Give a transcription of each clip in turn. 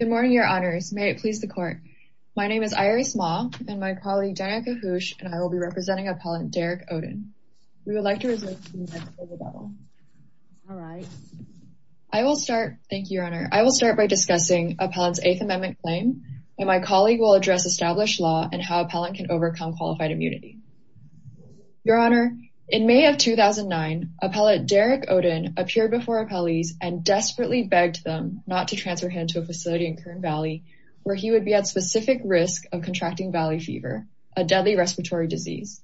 Good morning, Your Honors. May it please the Court. My name is Iris Maw and my colleague, Danica Hoosh, and I will be representing Appellant Derrick Oden. We would like to resume the hearing. Thank you, Your Honor. I will start by discussing Appellant's Eighth Amendment claim and my colleague will address established law and how Appellant can overcome qualified immunity. Your Honor, in May of 2009, Appellant Derrick Oden appeared before appellees and transferred him to a facility in Kern Valley where he would be at specific risk of contracting valley fever, a deadly respiratory disease.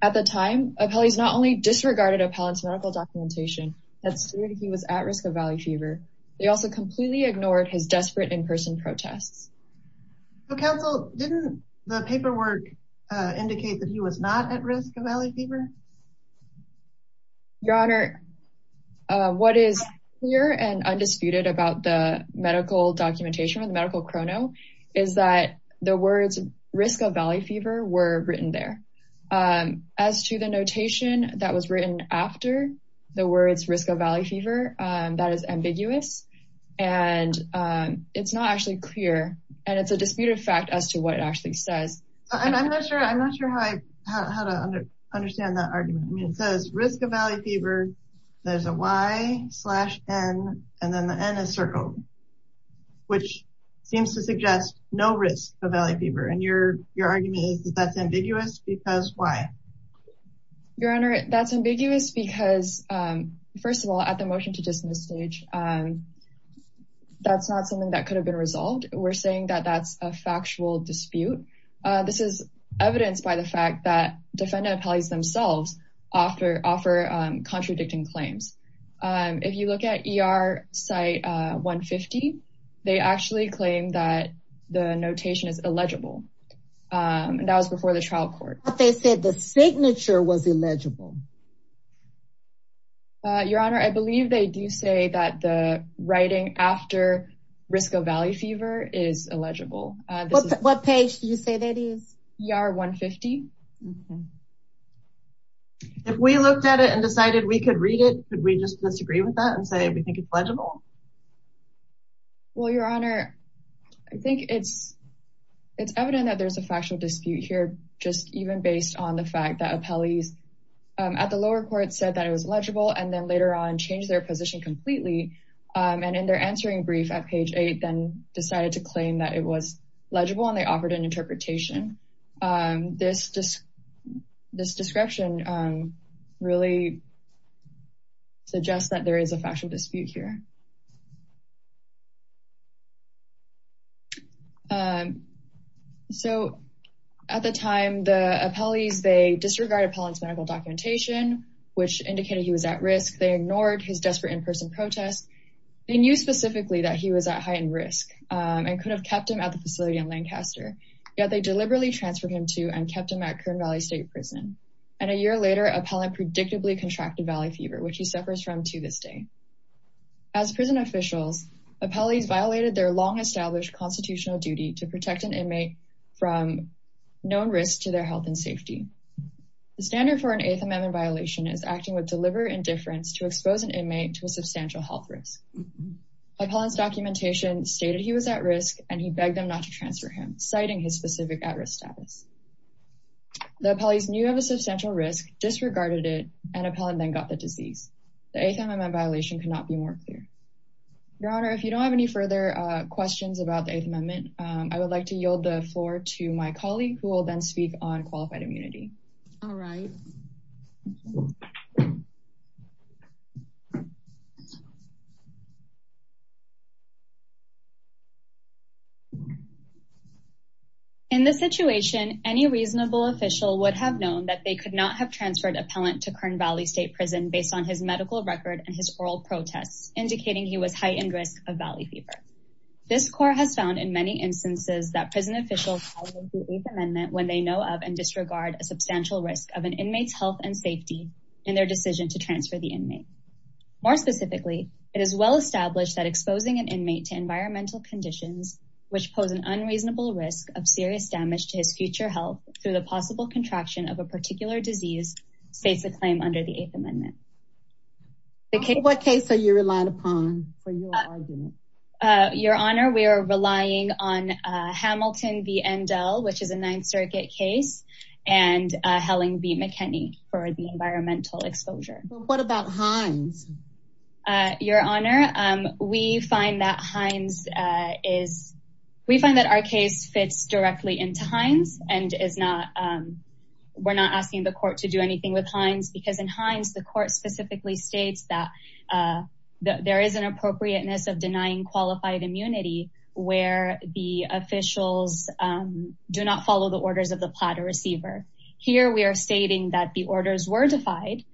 At the time, appellees not only disregarded Appellant's medical documentation that stated he was at risk of valley fever, they also completely ignored his desperate in-person protests. So, Counsel, didn't the paperwork indicate that he was not at risk of valley fever? Your Honor, what is clear and undisputed about the medical documentation, the medical chrono, is that the words risk of valley fever were written there. As to the notation that was written after the words risk of valley fever, that is ambiguous and it's not actually clear and it's a disputed fact as to what it actually says. I'm not sure how to understand it says risk of valley fever, there's a Y slash N and then the N is circled, which seems to suggest no risk of valley fever and your argument is that's ambiguous because why? Your Honor, that's ambiguous because, first of all, at the motion to dismiss stage, that's not something that could have been resolved. We're saying that that's a factual dispute. This is evidenced by the fact that defendant appellees themselves offer contradicting claims. If you look at ER site 150, they actually claim that the notation is illegible and that was before the trial court. They said the signature was illegible. Your Honor, I believe they do say that the writing after risk of valley fever is illegible. What page do you say that is? ER 150. If we looked at it and decided we could read it, could we just disagree with that and say we think it's legible? Well, Your Honor, I think it's evident that there's a factual dispute here just even based on the fact that appellees at the lower court said that it was legible and then later on changed their position completely and in their answering brief at page eight then decided to claim that it was legible and they offered an interpretation. This description really suggests that there is a factual dispute here. At the time, the appellees, they disregard appellant's medical documentation, which indicated he was at risk. They ignored his desperate in-person protests. They knew specifically that he was at heightened risk and could have kept him at the facility in Lancaster, yet they deliberately transferred him to and kept him at Kern Valley State Prison. And a year later, appellant predictably contracted valley fever, which he suffers from to this day. As prison officials, appellees violated their long-established constitutional duty to protect an inmate from known risks to their health and safety. The standard for an Eighth Amendment violation is acting with deliberate indifference to expose an inmate to a substantial health risk. Appellant's documentation stated he was at risk and he begged them not to transfer him, citing his specific at-risk status. The appellees knew of a substantial risk, disregarded it, and appellant then got the disease. The Eighth Amendment violation could not be more clear. Your Honor, if you don't have any further questions about the Eighth Amendment, I would like to yield the floor to my colleague who will then speak on qualified immunity. All right. In this situation, any reasonable official would have known that they could not have transferred appellant to Kern Valley State Prison based on his medical record and his oral protests, indicating he was heightened risk of valley fever. This court has found in many instances that prison officials violate the Eighth Amendment when they know of and disregard a substantial risk of an inmate's health and safety in their decision to transfer the inmate. More specifically, it is well established that exposing an inmate to environmental conditions, which pose an unreasonable risk of serious damage to his future health through the possible contraction of a particular disease, states a claim under the Eighth Amendment. What case are you relying upon for your argument? Your Honor, we are relying on Hamilton v. Endell, which is a Ninth Circuit case, and Helling v. McKinney for the environmental exposure. What about Hines? Your Honor, we find that our case fits directly into Hines and we're not asking the court to do anything with Hines because in Hines, the court specifically states that there is an appropriateness of denying qualified immunity where the officials do not follow the orders of the platter receiver. Here, we are stating that the orders were defied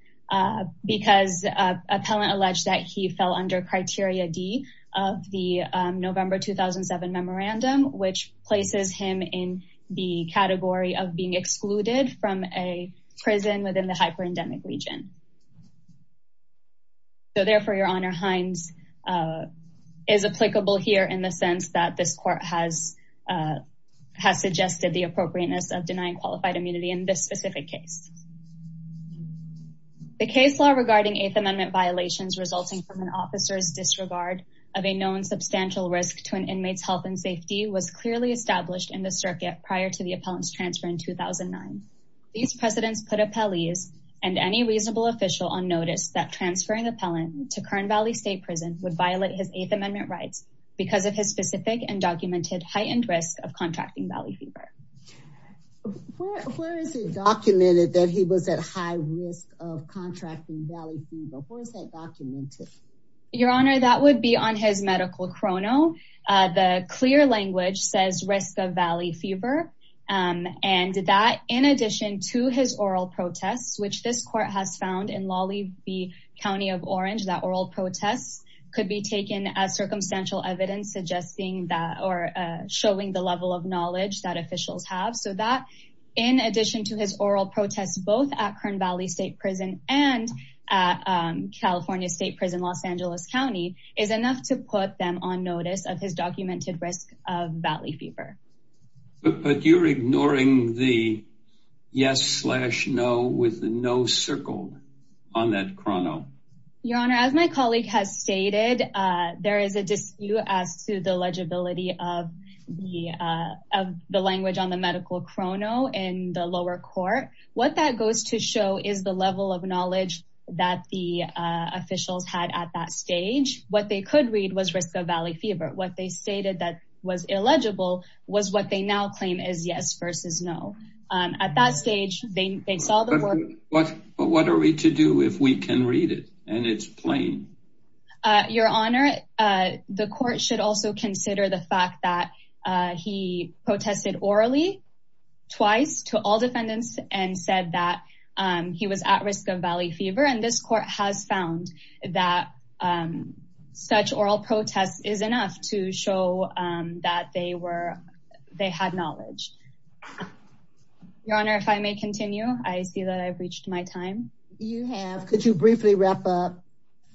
because an appellant alleged that he fell under Criteria D of the November 2007 memorandum, which places him in the category of being excluded from a prison within the hyperendemic region. Therefore, Your Honor, Hines is applicable here in the sense that this court has suggested the appropriateness of denying qualified immunity in this specific case. The case law regarding Eighth Amendment violations resulting from an officer's disregard of a known substantial risk to an inmate's health and safety was clearly established in the circuit prior to the appellant's transfer in 2009. These precedents put appellees and any reasonable official on notice that transferring appellant to Kern Valley State Prison would violate his Eighth Amendment rights because of his specific and documented heightened risk of contracting valley fever. Where is it documented that he was at high risk of contracting valley fever? Where is that documented? Your Honor, that would be on his medical chrono. The clear language says risk of valley fever and that in addition to his oral protests, which this court has found in Lawley v. County of Orange, that oral protests could be taken as circumstantial evidence suggesting that or showing the level of knowledge that officials have. So that in addition to his oral protests, both at Kern Valley State Prison and at California State Prison Los Angeles County is enough to put them on notice of his documented risk of valley fever. But you're ignoring the yes slash no with no circle on that chrono. Your Honor, as my colleague has stated, there is a dispute as to the legibility of the language on the medical chrono in the lower court. What that goes to show is the level of knowledge that the officials had at that stage. What they could read was risk of valley fever. What they stated that was illegible was what they now claim is yes versus no. At that stage, they saw the court- But what are we to do if we can read it and it's plain? Your Honor, the court should also consider the fact that he protested orally twice to all defendants and said that he was at risk of valley fever and this court has found that such oral protests is enough to show that they had knowledge. Your Honor, if I may continue, I see that I've reached my time. You have. Could you briefly wrap up?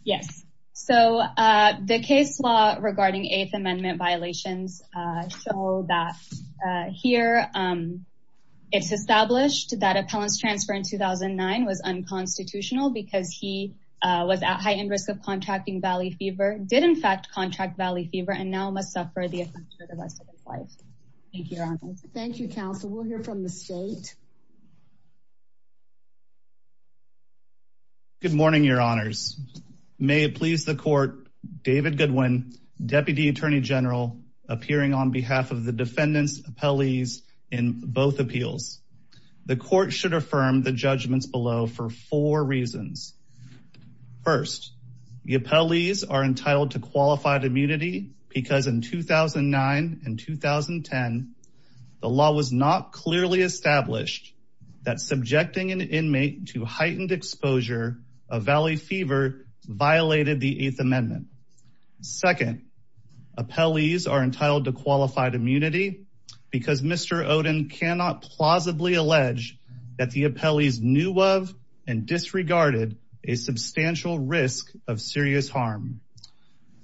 Yes. The case law regarding Eighth Amendment violations show that here it's established that appellant's transfer in 2009 was unconstitutional because he was at heightened risk of contracting valley fever, did in fact contract valley fever, and now must suffer the effect for the rest of his life. Thank you, Your Honor. Thank you, counsel. We'll hear from the May it please the court, David Goodwin, Deputy Attorney General appearing on behalf of the defendant's appellees in both appeals. The court should affirm the judgments below for four reasons. First, the appellees are entitled to qualified immunity because in 2009 and 2010, the law was not clearly established that subjecting an inmate to heightened exposure of valley fever violated the Eighth Amendment. Second, appellees are entitled to qualified immunity because Mr. Oden cannot plausibly allege that the appellees knew of and disregarded a substantial risk of serious harm.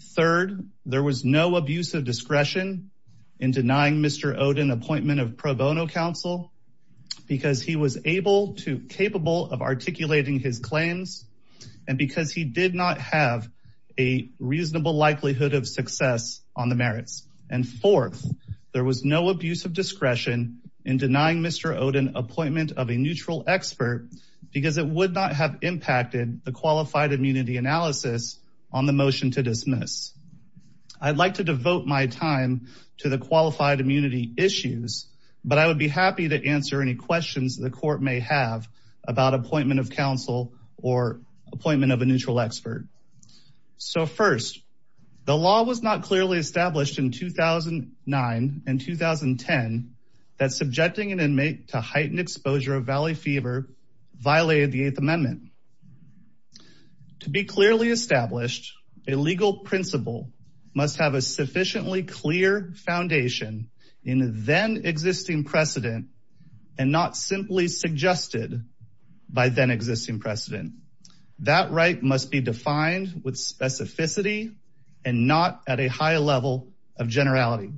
Third, there was no abuse of discretion in denying Mr. Oden appointment of pro bono counsel because he was able to, capable of articulating his claims and because he did not have a reasonable likelihood of success on the merits. And fourth, there was no abuse of discretion in denying Mr. Oden appointment of a neutral expert because it would not have impacted the qualified immunity analysis on the motion to dismiss. I'd like to devote my time to the qualified immunity issues, but I would be happy to answer any questions the court may have about appointment of counsel or appointment of a neutral expert. So first, the law was not clearly established in 2009 and 2010 that subjecting an inmate to heightened exposure of valley fever violated the Eighth Amendment. To be clearly established, a legal principle must have a sufficiently clear foundation in the then existing precedent and not simply suggested by then existing precedent. That right must be defined with specificity and not at a high level of generality.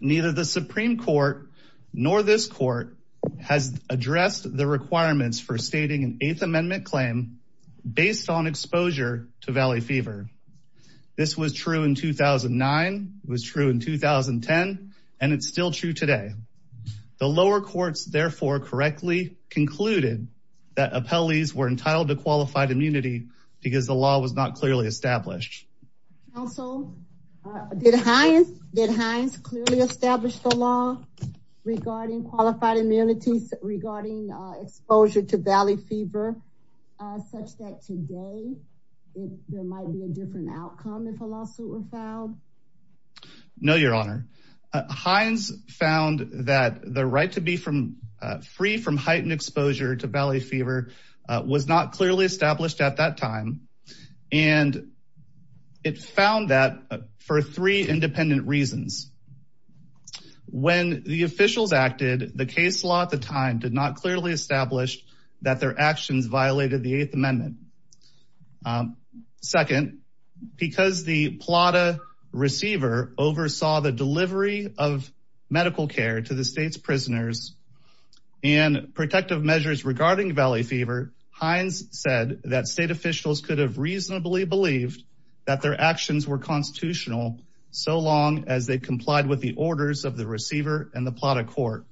Neither the Supreme Court nor this court has addressed the requirements for stating an Eighth Amendment claim based on exposure to valley fever. This was true in 2009, was true in 2010, and it's still true today. The lower courts therefore correctly concluded that appellees were entitled to qualified immunity because the law was not clearly established. Also, did Hines clearly establish the law regarding qualified immunity regarding exposure to valley fever such that today there might be a different outcome if a lawsuit were filed? No, Your Honor. Hines found that the right to be free from heightened exposure to valley fever was not clearly established at that time, and it found that for three did not clearly establish that their actions violated the Eighth Amendment. Second, because the PLATA receiver oversaw the delivery of medical care to the state's prisoners and protective measures regarding valley fever, Hines said that state officials could have reasonably believed that their actions were constitutional so long as they complied with orders of the receiver and the PLATA court.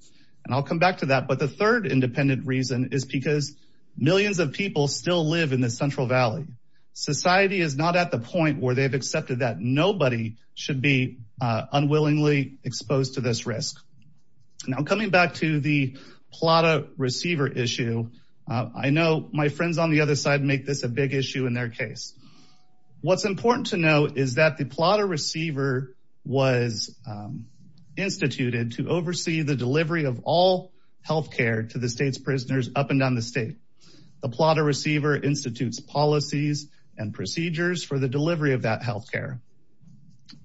And I'll come back to that, but the third independent reason is because millions of people still live in the Central Valley. Society is not at the point where they've accepted that nobody should be unwillingly exposed to this risk. Now coming back to the PLATA receiver issue, I know my friends on the other side make this a big issue in their case. What's important to note is that the PLATA receiver was instituted to oversee the delivery of all health care to the state's prisoners up and down the state. The PLATA receiver institutes policies and procedures for the delivery of that health care.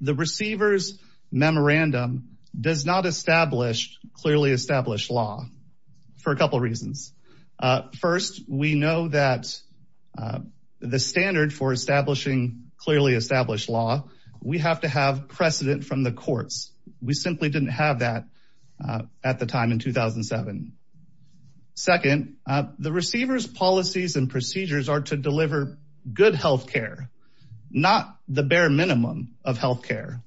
The receiver's memorandum does not establish clearly established law for a couple reasons. First, we know that the standard for establishing clearly established law, we have to have precedent from the courts. We simply didn't have that at the time in 2007. Second, the receiver's policies and procedures are to deliver good health care, not the bare minimum of health care.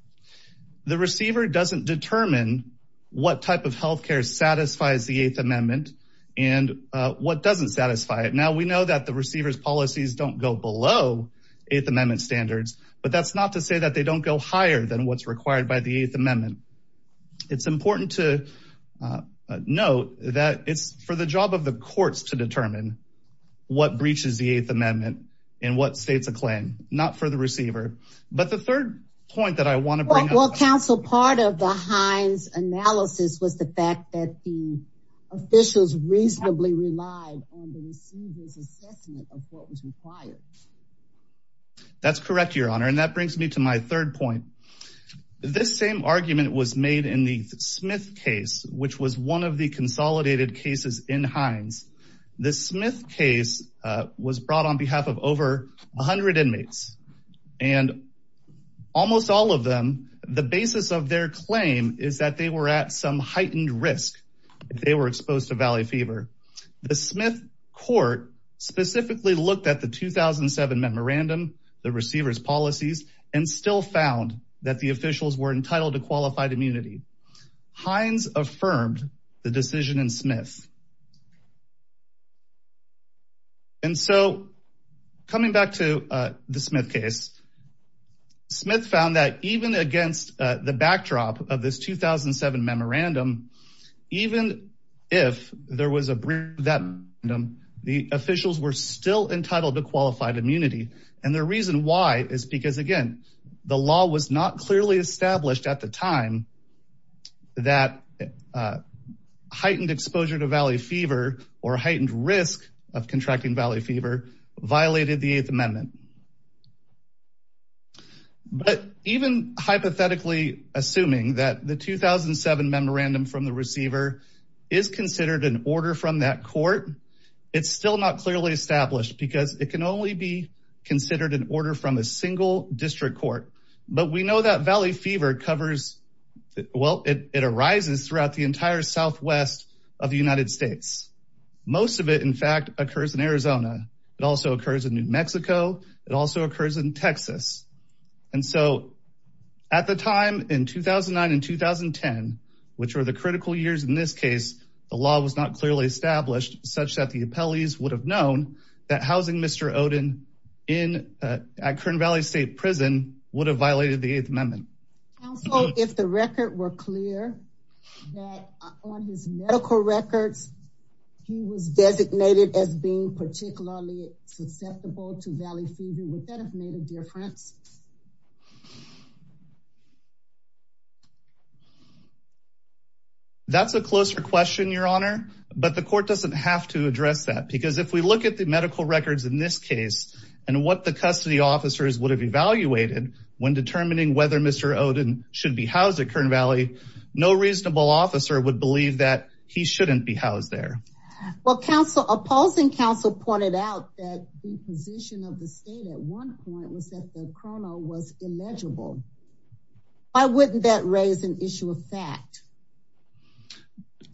The receiver doesn't determine what type of health care satisfies the Eighth Amendment and what doesn't satisfy it. Now we know that the receiver's policies don't go below Eighth Amendment standards, but that's not to say that they don't go higher than what's required by the Eighth Amendment. It's important to note that it's for the job of the courts to determine what breaches the Eighth Amendment and what states a claim, not for the receiver. But the third point that I want to bring up... Well, counsel, part of the Hines analysis was the fact that the officials reasonably relied on the receiver's assessment of what was required. That's correct, Your Honor. And that brings me to my third point. This same argument was made in the Smith case, which was one of the consolidated cases in Hines. The Smith case was brought on behalf of over 100 inmates. And almost all of them, the basis of their claim is that they were at some heightened risk if they were exposed to Valley fever. The Smith court specifically looked at the 2007 memorandum, the receiver's policies, and still found that the officials were entitled to qualified immunity. Hines affirmed the decision in Smith. And so coming back to the Smith case, Smith found that even against the backdrop of this 2007 memorandum, even if there was a breach of that memorandum, the officials were still entitled to qualified immunity. And the reason why is because, again, the law was not clearly established at the time that heightened exposure to Valley fever or heightened risk of contracting Valley fever violated the Eighth Amendment. But even hypothetically assuming that the 2007 memorandum from the receiver is considered an order from that court, it's still not clearly established because it can only be covered, well, it arises throughout the entire Southwest of the United States. Most of it, in fact, occurs in Arizona. It also occurs in New Mexico. It also occurs in Texas. And so at the time in 2009 and 2010, which were the critical years in this case, the law was not clearly established such that the appellees would have known that housing Mr. Oden at Kern Valley State Prison would have violated the Eighth Amendment. Also, if the record were clear that on his medical records, he was designated as being particularly susceptible to Valley fever, would that have made a difference? That's a closer question, Your Honor, but the court doesn't have to address that because if we look at the medical records in this case, and what the custody officers would have evaluated when determining whether Mr. Oden should be housed at Kern Valley, no reasonable officer would believe that he shouldn't be housed there. Well, opposing counsel pointed out that the position of the state at one point was that the colonel was illegible. Why wouldn't that raise an issue of fact?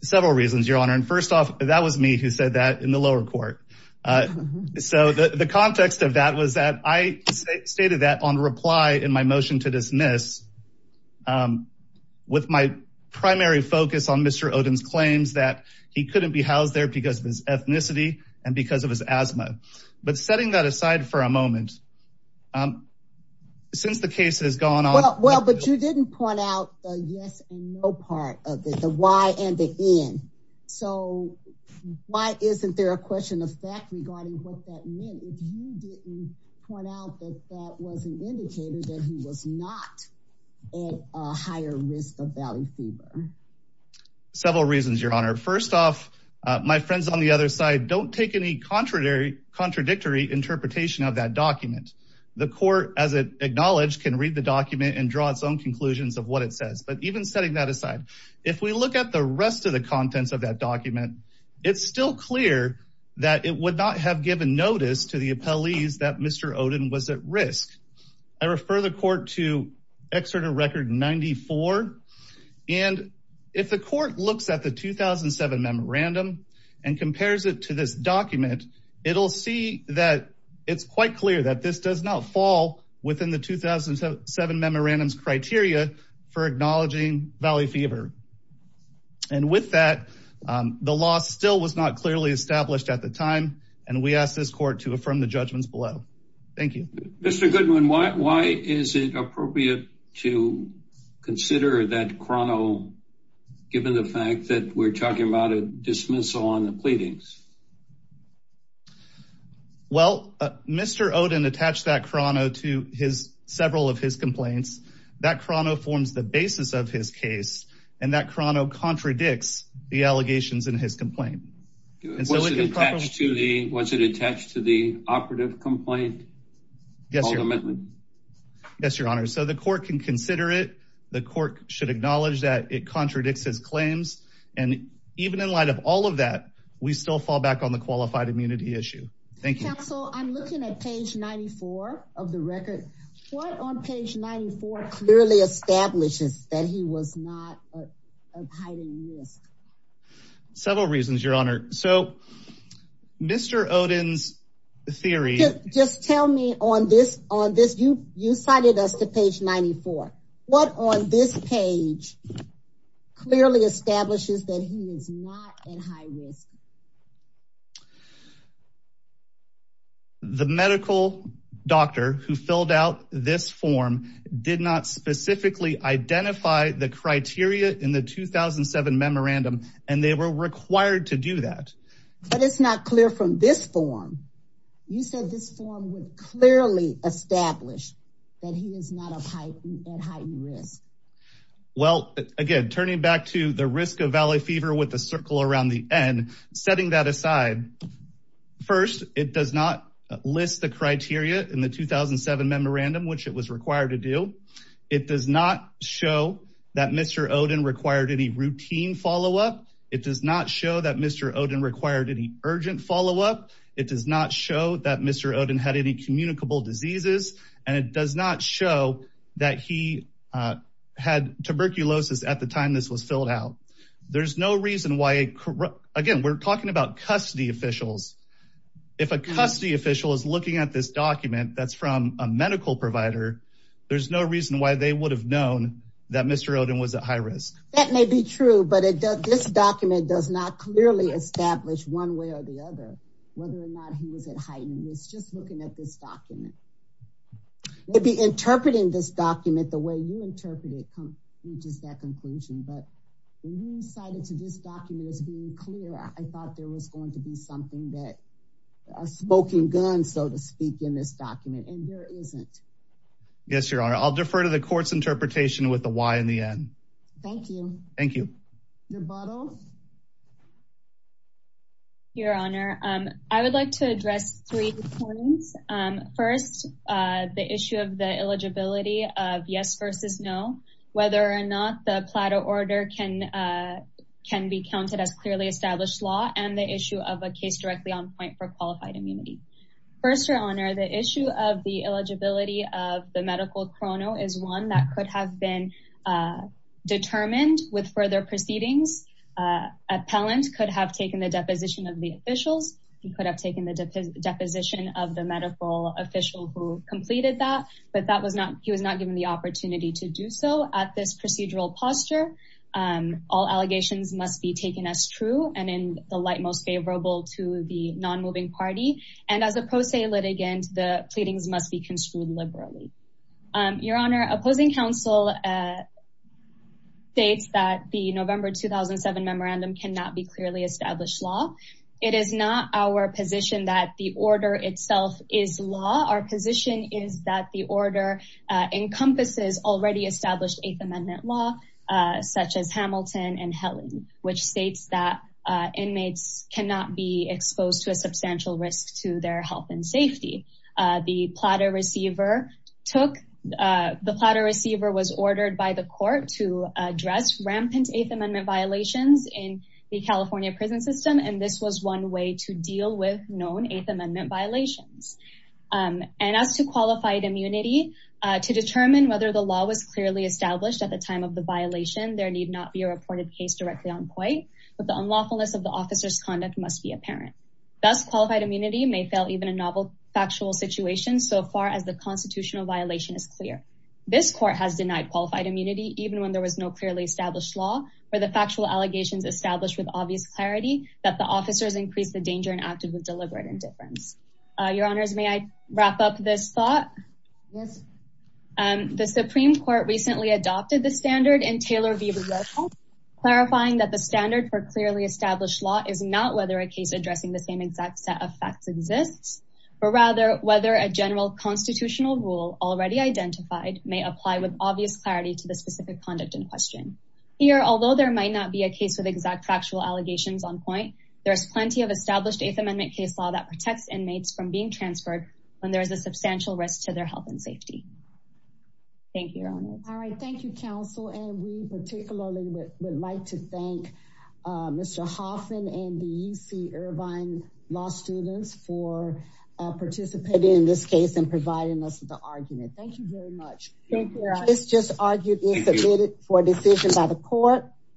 Several reasons, Your Honor. And first off, that was me who said that in the lower court. So the context of that was that I stated that on reply in my motion to dismiss with my primary focus on Mr. Oden's claims that he couldn't be housed there because of his ethnicity and because of his asthma. But setting that aside for a moment, since the case has gone on- Well, but you didn't point out the yes and no part of it, the why and the in. So why isn't there a question of fact regarding what that meant if you didn't point out that that was an indicator that he was not at a higher risk of valley fever? Several reasons, Your Honor. First off, my friends on the other side, don't take any contradictory interpretation of that document. The court, as it acknowledged, can read the rest of the contents of that document. It's still clear that it would not have given notice to the appellees that Mr. Oden was at risk. I refer the court to Excerpt of Record 94. And if the court looks at the 2007 memorandum and compares it to this document, it'll see that it's quite clear that this does not fall within the 2007 memorandum's criteria for acknowledging valley fever. And with that, the law still was not clearly established at the time, and we ask this court to affirm the judgments below. Thank you. Mr. Goodwin, why is it appropriate to consider that chrono given the fact that we're talking about a dismissal on the pleadings? Well, Mr. Oden attached that chrono to several of his complaints. That chrono forms the basis of his case, and that chrono contradicts the allegations in his complaint. Was it attached to the operative complaint? Yes, Your Honor. So the court can consider it. The court should acknowledge that it contradicts his claims. And even in light of all of that, we still fall back on the qualified immunity issue. Thank you. Counsel, I'm looking at page 94 of the record. What on page 94 clearly establishes that he was not at high risk? Several reasons, Your Honor. So Mr. Oden's theory... Just tell me on this. You cited us to page 94. What on this page clearly establishes that he is not at high risk? The medical doctor who filled out this form did not specifically identify the criteria in the 2007 memorandum, and they were required to do that. But it's not clear from this form. You said this form would clearly establish that he is not at heightened risk. Well, again, turning back to the fever with a circle around the end, setting that aside, first, it does not list the criteria in the 2007 memorandum, which it was required to do. It does not show that Mr. Oden required any routine follow-up. It does not show that Mr. Oden required any urgent follow-up. It does not show that Mr. Oden had any communicable diseases. And it does not show that he had tuberculosis at the time this was filled out. There's no reason why... Again, we're talking about custody officials. If a custody official is looking at this document that's from a medical provider, there's no reason why they would have known that Mr. Oden was at high risk. That may be true, but this document does not clearly establish one way or the other whether or not he was at heightened risk, just looking at this document. They'd be interpreting this document the way you interpreted it, which is that conclusion. But when you cited to this document as being clear, I thought there was going to be something that a smoking gun, so to speak, in this document, and there isn't. Yes, Your Honor. I'll defer to the court's interpretation with the why in the end. Thank you. Thank you. Your Honor, I would like to address three points. First, the issue of the eligibility of yes versus no, whether or not the PLATA order can be counted as clearly established law, and the issue of a case directly on point for qualified immunity. First, Your Honor, the issue of the eligibility of the medical chrono is one that could have been appellant could have taken the deposition of the officials. He could have taken the deposition of the medical official who completed that, but he was not given the opportunity to do so at this procedural posture. All allegations must be taken as true and in the light most favorable to the non-moving party. And as a pro se litigant, the pleadings must be construed liberally. Your Honor, opposing counsel states that the November 2007 memorandum cannot be clearly established law. It is not our position that the order itself is law. Our position is that the order encompasses already established Eighth Amendment law, such as Hamilton and Helen, which states that inmates cannot be exposed to a substantial risk to their health and safety. The PLATA receiver was ordered by the court to address rampant Eighth Amendment violations in the California prison system. And this was one way to deal with known Eighth Amendment violations. And as to qualified immunity, to determine whether the law was clearly established at the time of the violation, there need not be a reported case directly on point, but the unlawfulness of the factual situation so far as the constitutional violation is clear. This court has denied qualified immunity even when there was no clearly established law or the factual allegations established with obvious clarity that the officers increased the danger and acted with deliberate indifference. Your Honors, may I wrap up this thought? Yes. The Supreme Court recently adopted the standard in Taylor v. Roscoe, clarifying that the standard for clearly established law is not whether a case addressing the same exact set of facts exists. But rather whether a general constitutional rule already identified may apply with obvious clarity to the specific conduct in question. Here, although there might not be a case with exact factual allegations on point, there is plenty of established Eighth Amendment case law that protects inmates from being transferred when there is a substantial risk to their health and safety. Thank you, Your Honors. All right. Thank you, counsel. And we particularly would like to thank Mr. Hoffman and the UC Irvine law students for participating in this case and providing us with the argument. Thank you very much. This just argued is submitted for decision by the court.